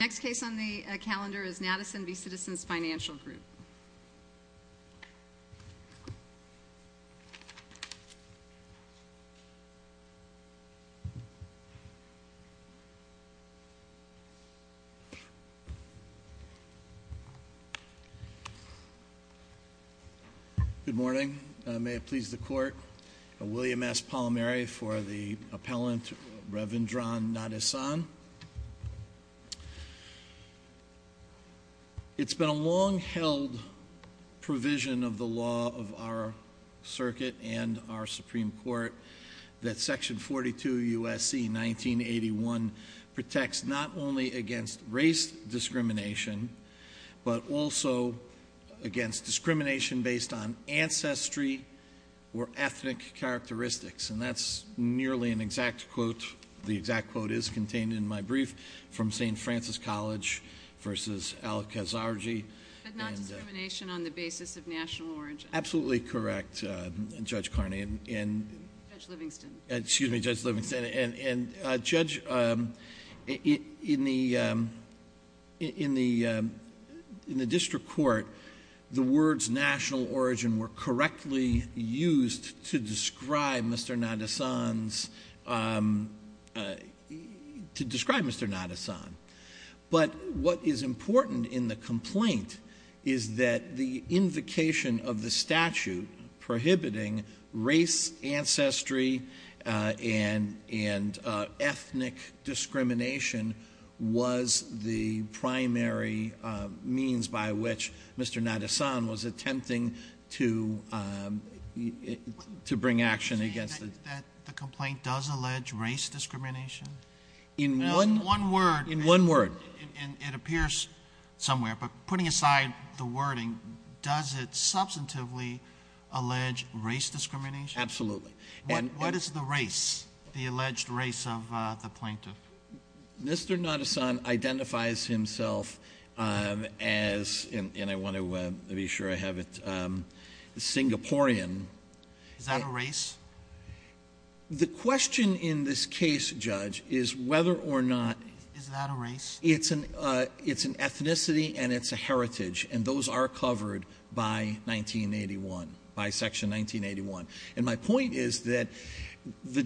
Next case on the calendar is Nadesan v. Citizens Financial Group. Good morning. May it please the court. William S. Palmieri for the appellant, Reverend Ron Nadesan. It's been a long-held provision of the law of our circuit and our Supreme Court that section 42 U.S.C. 1981 protects not only against race discrimination but also against discrimination based on ancestry or ethnic characteristics. And that's nearly an exact quote. The exact quote is contained in my brief from St. Francis College v. Al-Khazarji. But not discrimination on the basis of national origin. Absolutely correct, Judge Carney. Judge Livingston. Excuse me, Judge Livingston. And, Judge, in the district court, the words national origin were correctly used to describe Mr. Nadesan. But what is important in the complaint is that the invocation of the statute prohibiting race, ancestry, and ethnic discrimination was the primary means by which Mr. Nadesan was attempting to bring action against the complaint. The complaint does allege race discrimination? In one word. In one word. It appears somewhere, but putting aside the wording, does it substantively allege race discrimination? Absolutely. What is the race, the alleged race of the plaintiff? Mr. Nadesan identifies himself as, and I want to be sure I have it, Singaporean. Is that a race? The question in this case, Judge, is whether or not — Is that a race? It's an ethnicity and it's a heritage. And those are covered by 1981, by Section 1981. And my point is that the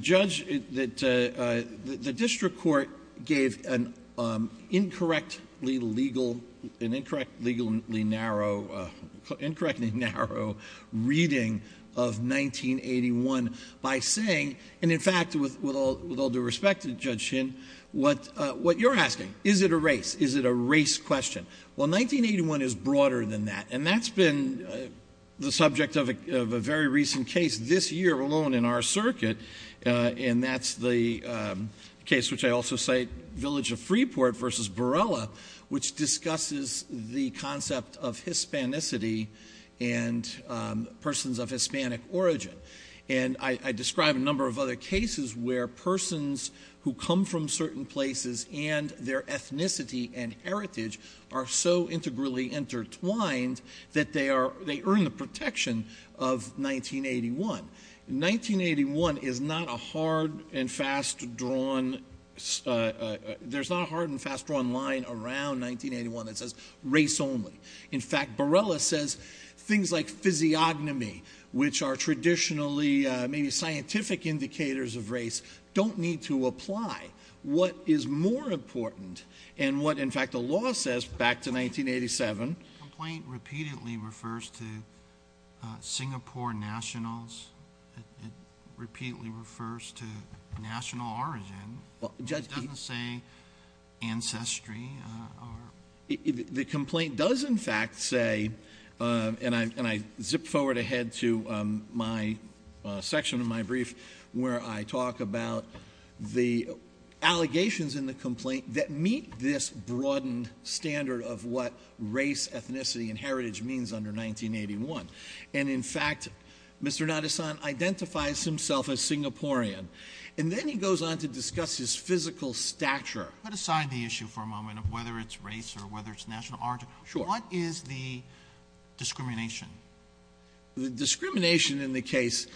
district court gave an incorrectly narrow reading of 1981 by saying — and in fact, with all due respect to Judge Shin, what you're asking, is it a race? Is it a race question? Well, 1981 is broader than that. And that's been the subject of a very recent case this year alone in our circuit, and that's the case which I also cite, Village of Freeport v. Barella, which discusses the concept of Hispanicity and persons of Hispanic origin. And I describe a number of other cases where persons who come from certain places and their ethnicity and heritage are so integrally intertwined that they earn the protection of 1981. 1981 is not a hard and fast-drawn — there's not a hard and fast-drawn line around 1981 that says race only. In fact, Barella says things like physiognomy, which are traditionally maybe scientific indicators of race, don't need to apply. What is more important, and what in fact the law says back to 1987 — The complaint repeatedly refers to Singapore nationals. It repeatedly refers to national origin. Well, Judge — It doesn't say ancestry. The complaint does in fact say — and I zip forward ahead to my section of my brief where I talk about the allegations in the complaint that meet this broadened standard of what race, ethnicity, and heritage means under 1981. And in fact, Mr. Nadasan identifies himself as Singaporean. And then he goes on to discuss his physical stature. Put aside the issue for a moment of whether it's race or whether it's national origin. Sure. What is the discrimination? The discrimination in the case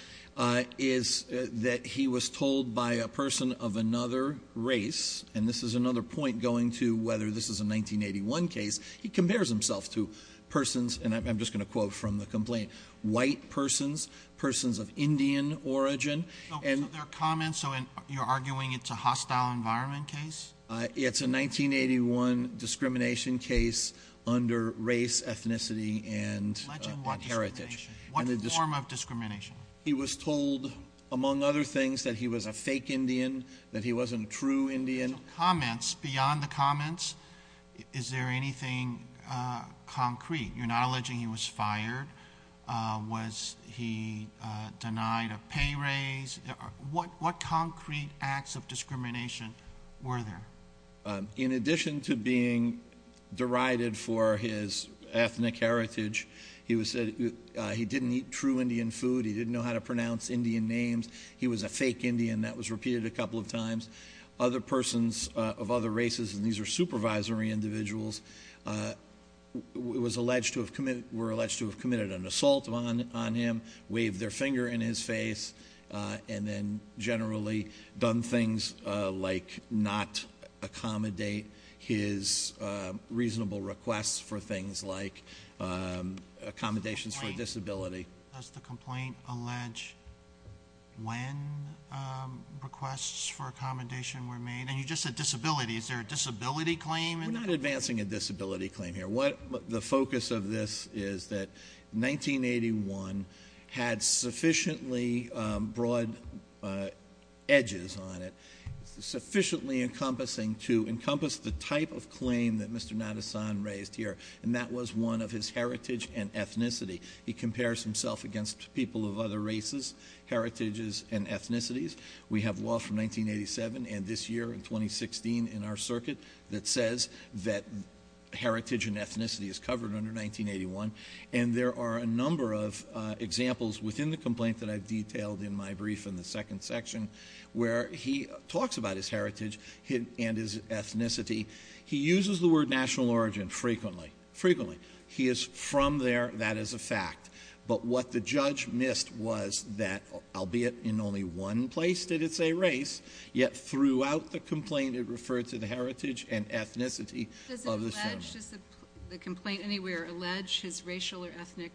is that he was told by a person of another race — and this is another point going to whether this is a 1981 case — he compares himself to persons — and I'm just going to quote from the complaint — white persons, persons of Indian origin. So there are comments, so you're arguing it's a hostile environment case? It's a 1981 discrimination case under race, ethnicity, and heritage. Alleging what discrimination? What form of discrimination? He was told, among other things, that he was a fake Indian, that he wasn't a true Indian. So comments, beyond the comments, is there anything concrete? You're not alleging he was fired? Was he denied a pay raise? What concrete acts of discrimination were there? In addition to being derided for his ethnic heritage, he was said he didn't eat true Indian food. He didn't know how to pronounce Indian names. He was a fake Indian. That was repeated a couple of times. Other persons of other races, and these are supervisory individuals, were alleged to have committed an assault on him, waved their finger in his face, and then generally done things like not accommodate his reasonable requests for things like accommodations for a disability. Does the complaint allege when requests for accommodation were made? And you just said disability. Is there a disability claim? We're not advancing a disability claim here. The focus of this is that 1981 had sufficiently broad edges on it, sufficiently encompassing to encompass the type of claim that Mr. Nadasan raised here, and that was one of his heritage and ethnicity. He compares himself against people of other races, heritages, and ethnicities. We have law from 1987 and this year in 2016 in our circuit that says that heritage and ethnicity is covered under 1981, and there are a number of examples within the complaint that I've detailed in my brief in the second section where he talks about his heritage and his ethnicity. He uses the word national origin frequently. He is from there. That is a fact. But what the judge missed was that, albeit in only one place did it say race, yet throughout the complaint it referred to the heritage and ethnicity of the gentleman. Does the complaint anywhere allege his racial or ethnic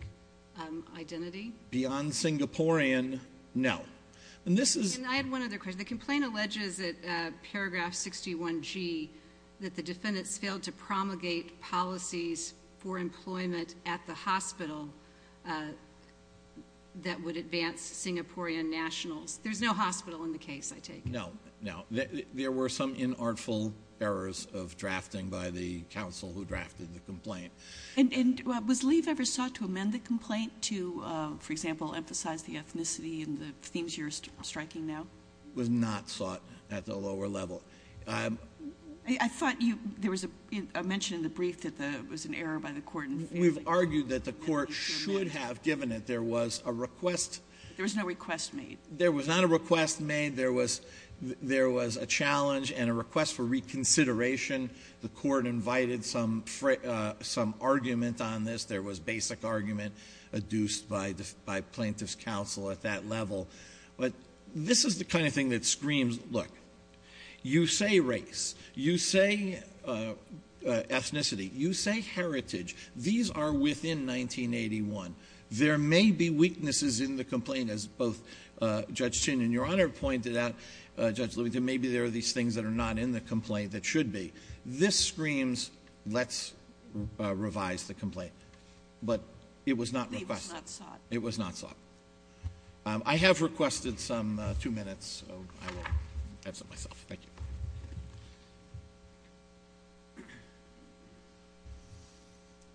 identity? Beyond Singaporean, no. I had one other question. The complaint alleges at paragraph 61G that the defendants failed to promulgate policies for employment at the hospital that would advance Singaporean nationals. There's no hospital in the case, I take it. No, no. There were some inartful errors of drafting by the counsel who drafted the complaint. And was Lee ever sought to amend the complaint to, for example, emphasize the ethnicity and the themes you're striking now? Was not sought at the lower level. I thought there was a mention in the brief that there was an error by the court. We've argued that the court should have given it. There was a request. There was no request made. There was not a request made. There was a challenge and a request for reconsideration. The court invited some argument on this. There was basic argument adduced by plaintiff's counsel at that level. But this is the kind of thing that screams, look, you say race. You say ethnicity. You say heritage. These are within 1981. There may be weaknesses in the complaint, as both Judge Chin and Your Honor pointed out. Judge Livington, maybe there are these things that are not in the complaint that should be. This screams, let's revise the complaint. But it was not requested. It was not sought. It was not sought. I have requested some two minutes. So I will have some myself. Thank you.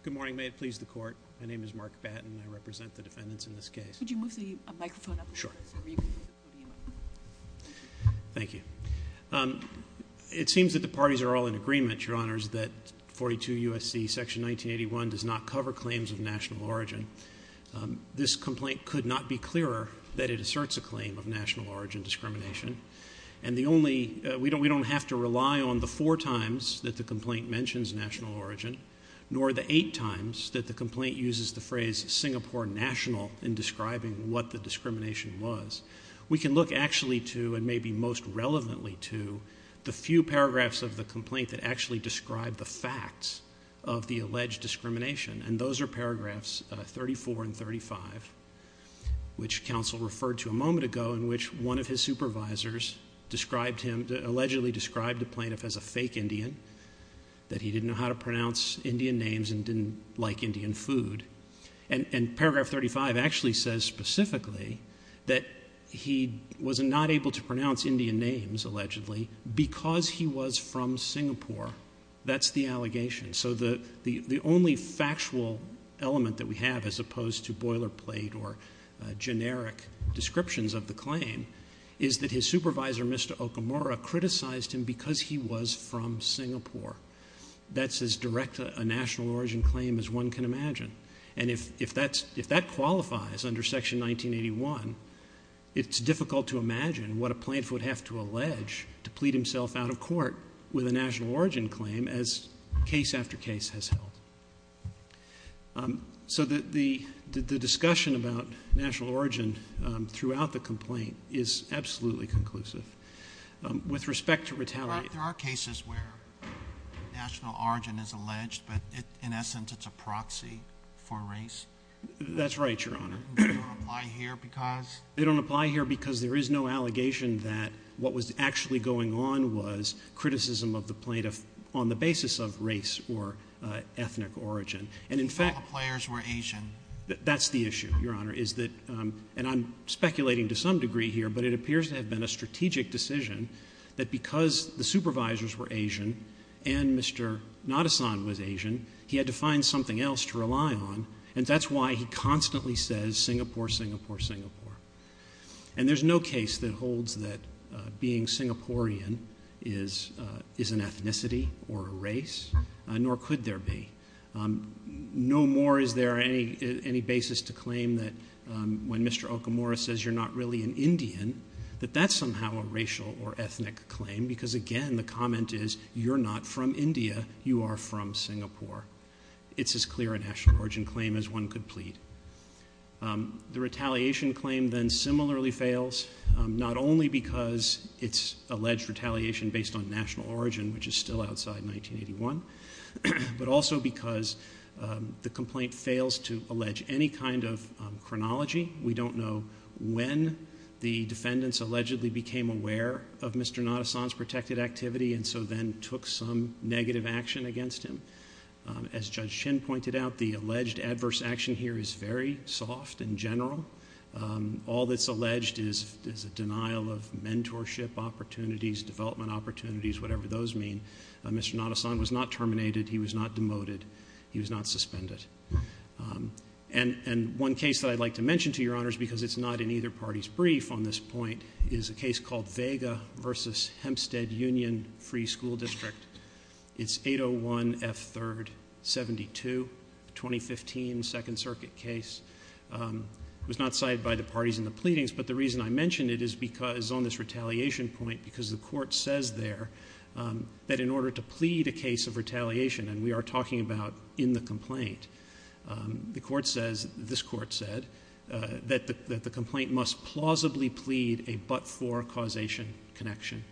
Good morning. May it please the court. My name is Mark Batten. I represent the defendants in this case. Could you move the microphone up a little bit? Sure. Thank you. It seems that the parties are all in agreement, Your Honors, that 42 U.S.C. Section 1981 does not cover claims of national origin. This complaint could not be clearer that it asserts a claim of national origin discrimination. And the only we don't have to rely on the four times that the complaint mentions national origin, nor the eight times that the complaint uses the phrase Singapore national in describing what the discrimination was. We can look actually to, and maybe most relevantly to, the few paragraphs of the complaint that actually describe the facts of the alleged discrimination. And those are paragraphs 34 and 35, which counsel referred to a moment ago, in which one of his supervisors allegedly described the plaintiff as a fake Indian, that he didn't know how to pronounce Indian names and didn't like Indian food. And paragraph 35 actually says specifically that he was not able to pronounce Indian names, allegedly, because he was from Singapore. That's the allegation. So the only factual element that we have, as opposed to boilerplate or generic descriptions of the claim, is that his supervisor, Mr. Okamura, criticized him because he was from Singapore. That's as direct a national origin claim as one can imagine. And if that qualifies under Section 1981, it's difficult to imagine what a plaintiff would have to allege to plead himself out of court with a national origin claim as case after case has held. So the discussion about national origin throughout the complaint is absolutely conclusive. With respect to retaliation. There are cases where national origin is alleged, but in essence it's a proxy for race. That's right, Your Honor. They don't apply here because? Because there is no allegation that what was actually going on was criticism of the plaintiff on the basis of race or ethnic origin. And in fact. All the players were Asian. That's the issue, Your Honor, is that, and I'm speculating to some degree here, but it appears to have been a strategic decision that because the supervisors were Asian and Mr. Nadasan was Asian, he had to find something else to rely on, and that's why he constantly says Singapore, Singapore, Singapore. And there's no case that holds that being Singaporean is an ethnicity or a race, nor could there be. No more is there any basis to claim that when Mr. Okamura says you're not really an Indian, that that's somehow a racial or ethnic claim because, again, the comment is you're not from India. You are from Singapore. It's as clear a national origin claim as one could plead. The retaliation claim then similarly fails not only because it's alleged retaliation based on national origin, which is still outside 1981, but also because the complaint fails to allege any kind of chronology. We don't know when the defendants allegedly became aware of Mr. Nadasan's protected activity and so then took some negative action against him. As Judge Chin pointed out, the alleged adverse action here is very soft and general. All that's alleged is a denial of mentorship opportunities, development opportunities, whatever those mean. Mr. Nadasan was not terminated. He was not demoted. He was not suspended. And one case that I'd like to mention to your honors because it's not in either party's brief on this point is a case called Vega v. Hempstead Union Free School District. It's 801 F. 3rd, 72, 2015 Second Circuit case. It was not cited by the parties in the pleadings, but the reason I mention it is because on this retaliation point because the court says there that in order to plead a case of retaliation, and we are talking about in the complaint, the court says, this court said, that the complaint must plausibly plead a but-for causation connection.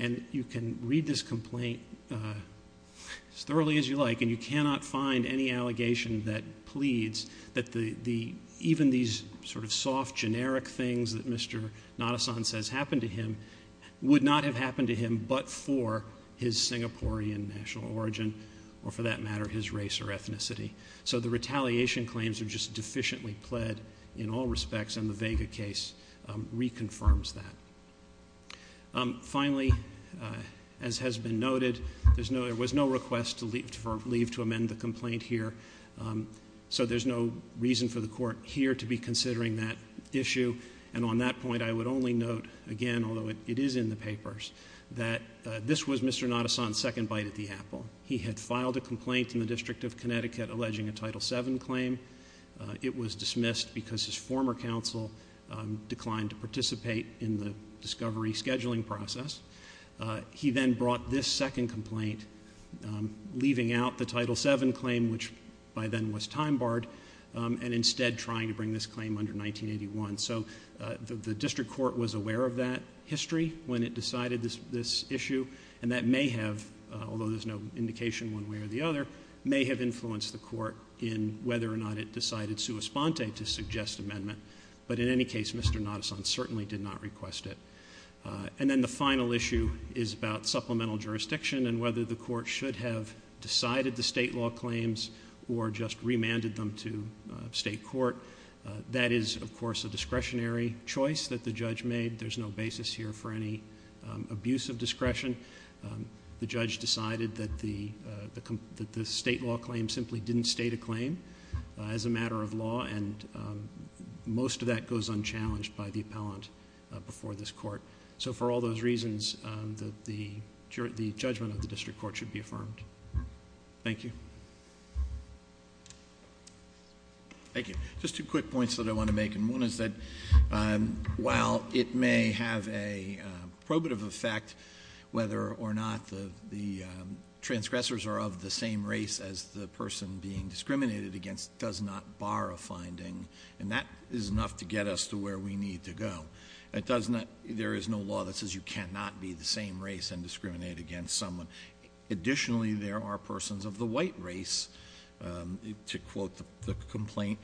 And you can read this complaint as thoroughly as you like, and you cannot find any allegation that pleads that even these sort of soft generic things that Mr. Nadasan says happened to him would not have happened to him but for his Singaporean national origin or for that matter his race or ethnicity. So the retaliation claims are just deficiently pled in all respects, and the Vega case reconfirms that. Finally, as has been noted, there was no request to leave to amend the complaint here, so there's no reason for the court here to be considering that issue. And on that point, I would only note again, although it is in the papers, that this was Mr. Nadasan's second bite at the apple. He had filed a complaint in the District of Connecticut alleging a Title VII claim. It was dismissed because his former counsel declined to participate in the discovery scheduling process. He then brought this second complaint, leaving out the Title VII claim, which by then was time-barred, and instead trying to bring this claim under 1981. So the district court was aware of that history when it decided this issue, and that may have, although there's no indication one way or the other, may have influenced the court in whether or not it decided sua sponte to suggest amendment. But in any case, Mr. Nadasan certainly did not request it. And then the final issue is about supplemental jurisdiction and whether the court should have decided the State law claims or just remanded them to State court. That is, of course, a discretionary choice that the judge made. There's no basis here for any abuse of discretion. The judge decided that the State law claim simply didn't state a claim as a matter of law, and most of that goes unchallenged by the appellant before this court. So for all those reasons, the judgment of the district court should be affirmed. Thank you. Thank you. Just two quick points that I want to make. And one is that while it may have a probative effect, whether or not the transgressors are of the same race as the person being discriminated against does not bar a finding. And that is enough to get us to where we need to go. There is no law that says you cannot be the same race and discriminate against someone. Additionally, there are persons of the white race, to quote the complaint,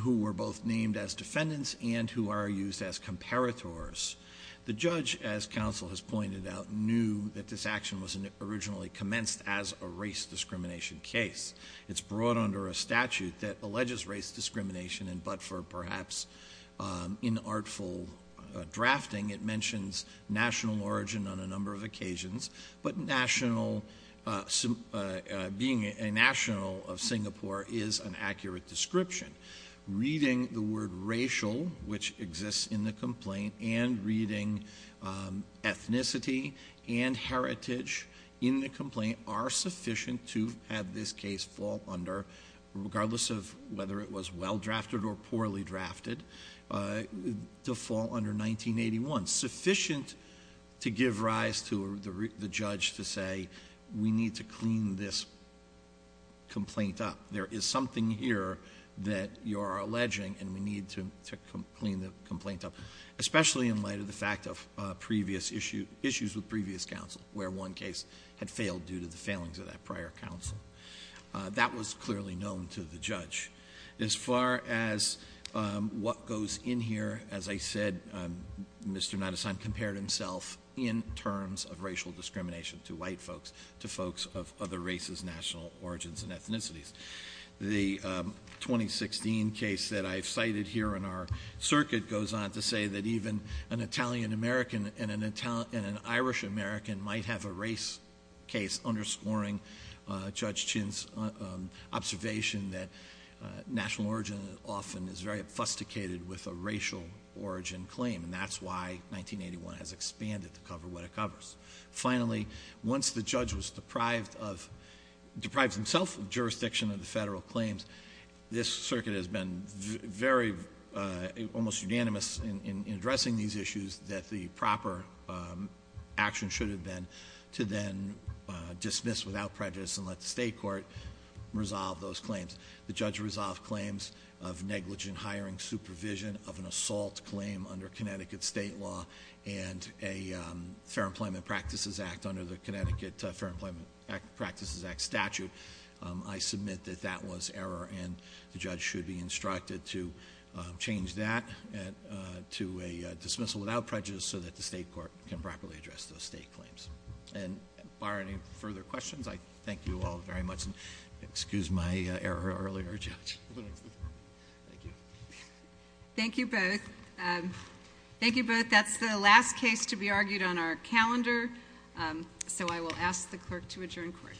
who were both named as defendants and who are used as comparators. The judge, as counsel has pointed out, knew that this action was originally commenced as a race discrimination case. It's brought under a statute that alleges race discrimination, and but for perhaps inartful drafting, it mentions national origin on a number of occasions. But being a national of Singapore is an accurate description. Reading the word racial, which exists in the complaint, and reading ethnicity and heritage in the complaint are sufficient to have this case fall under, regardless of whether it was well drafted or poorly drafted, to fall under 1981. Sufficient to give rise to the judge to say, we need to clean this complaint up. There is something here that you are alleging, and we need to clean the complaint up. Especially in light of the fact of issues with previous counsel, where one case had failed due to the failings of that prior counsel. That was clearly known to the judge. As far as what goes in here, as I said, Mr. Nadasan compared himself in terms of racial discrimination to white folks, to folks of other races, national origins, and ethnicities. The 2016 case that I've cited here in our circuit goes on to say that even an Italian American and an Irish American might have a race case underscoring Judge Chin's observation that national origin often is very obfuscated with a racial origin claim. And that's why 1981 has expanded to cover what it covers. Finally, once the judge was deprived of, deprives himself of jurisdiction of the federal claims, this circuit has been very, almost unanimous in addressing these issues. That the proper action should have been to then dismiss without prejudice and let the state court resolve those claims. The judge resolved claims of negligent hiring supervision of an assault claim under Connecticut state law and a Fair Employment Practices Act under the Connecticut Fair Employment Practices Act statute. I submit that that was error and the judge should be instructed to change that to a dismissal without prejudice, so that the state court can properly address those state claims. And bar any further questions, I thank you all very much. Excuse my error earlier, Judge. Thank you. Thank you both. Thank you both. That's the last case to be argued on our calendar, so I will ask the clerk to adjourn court. Clerk, I ask you to adjourn.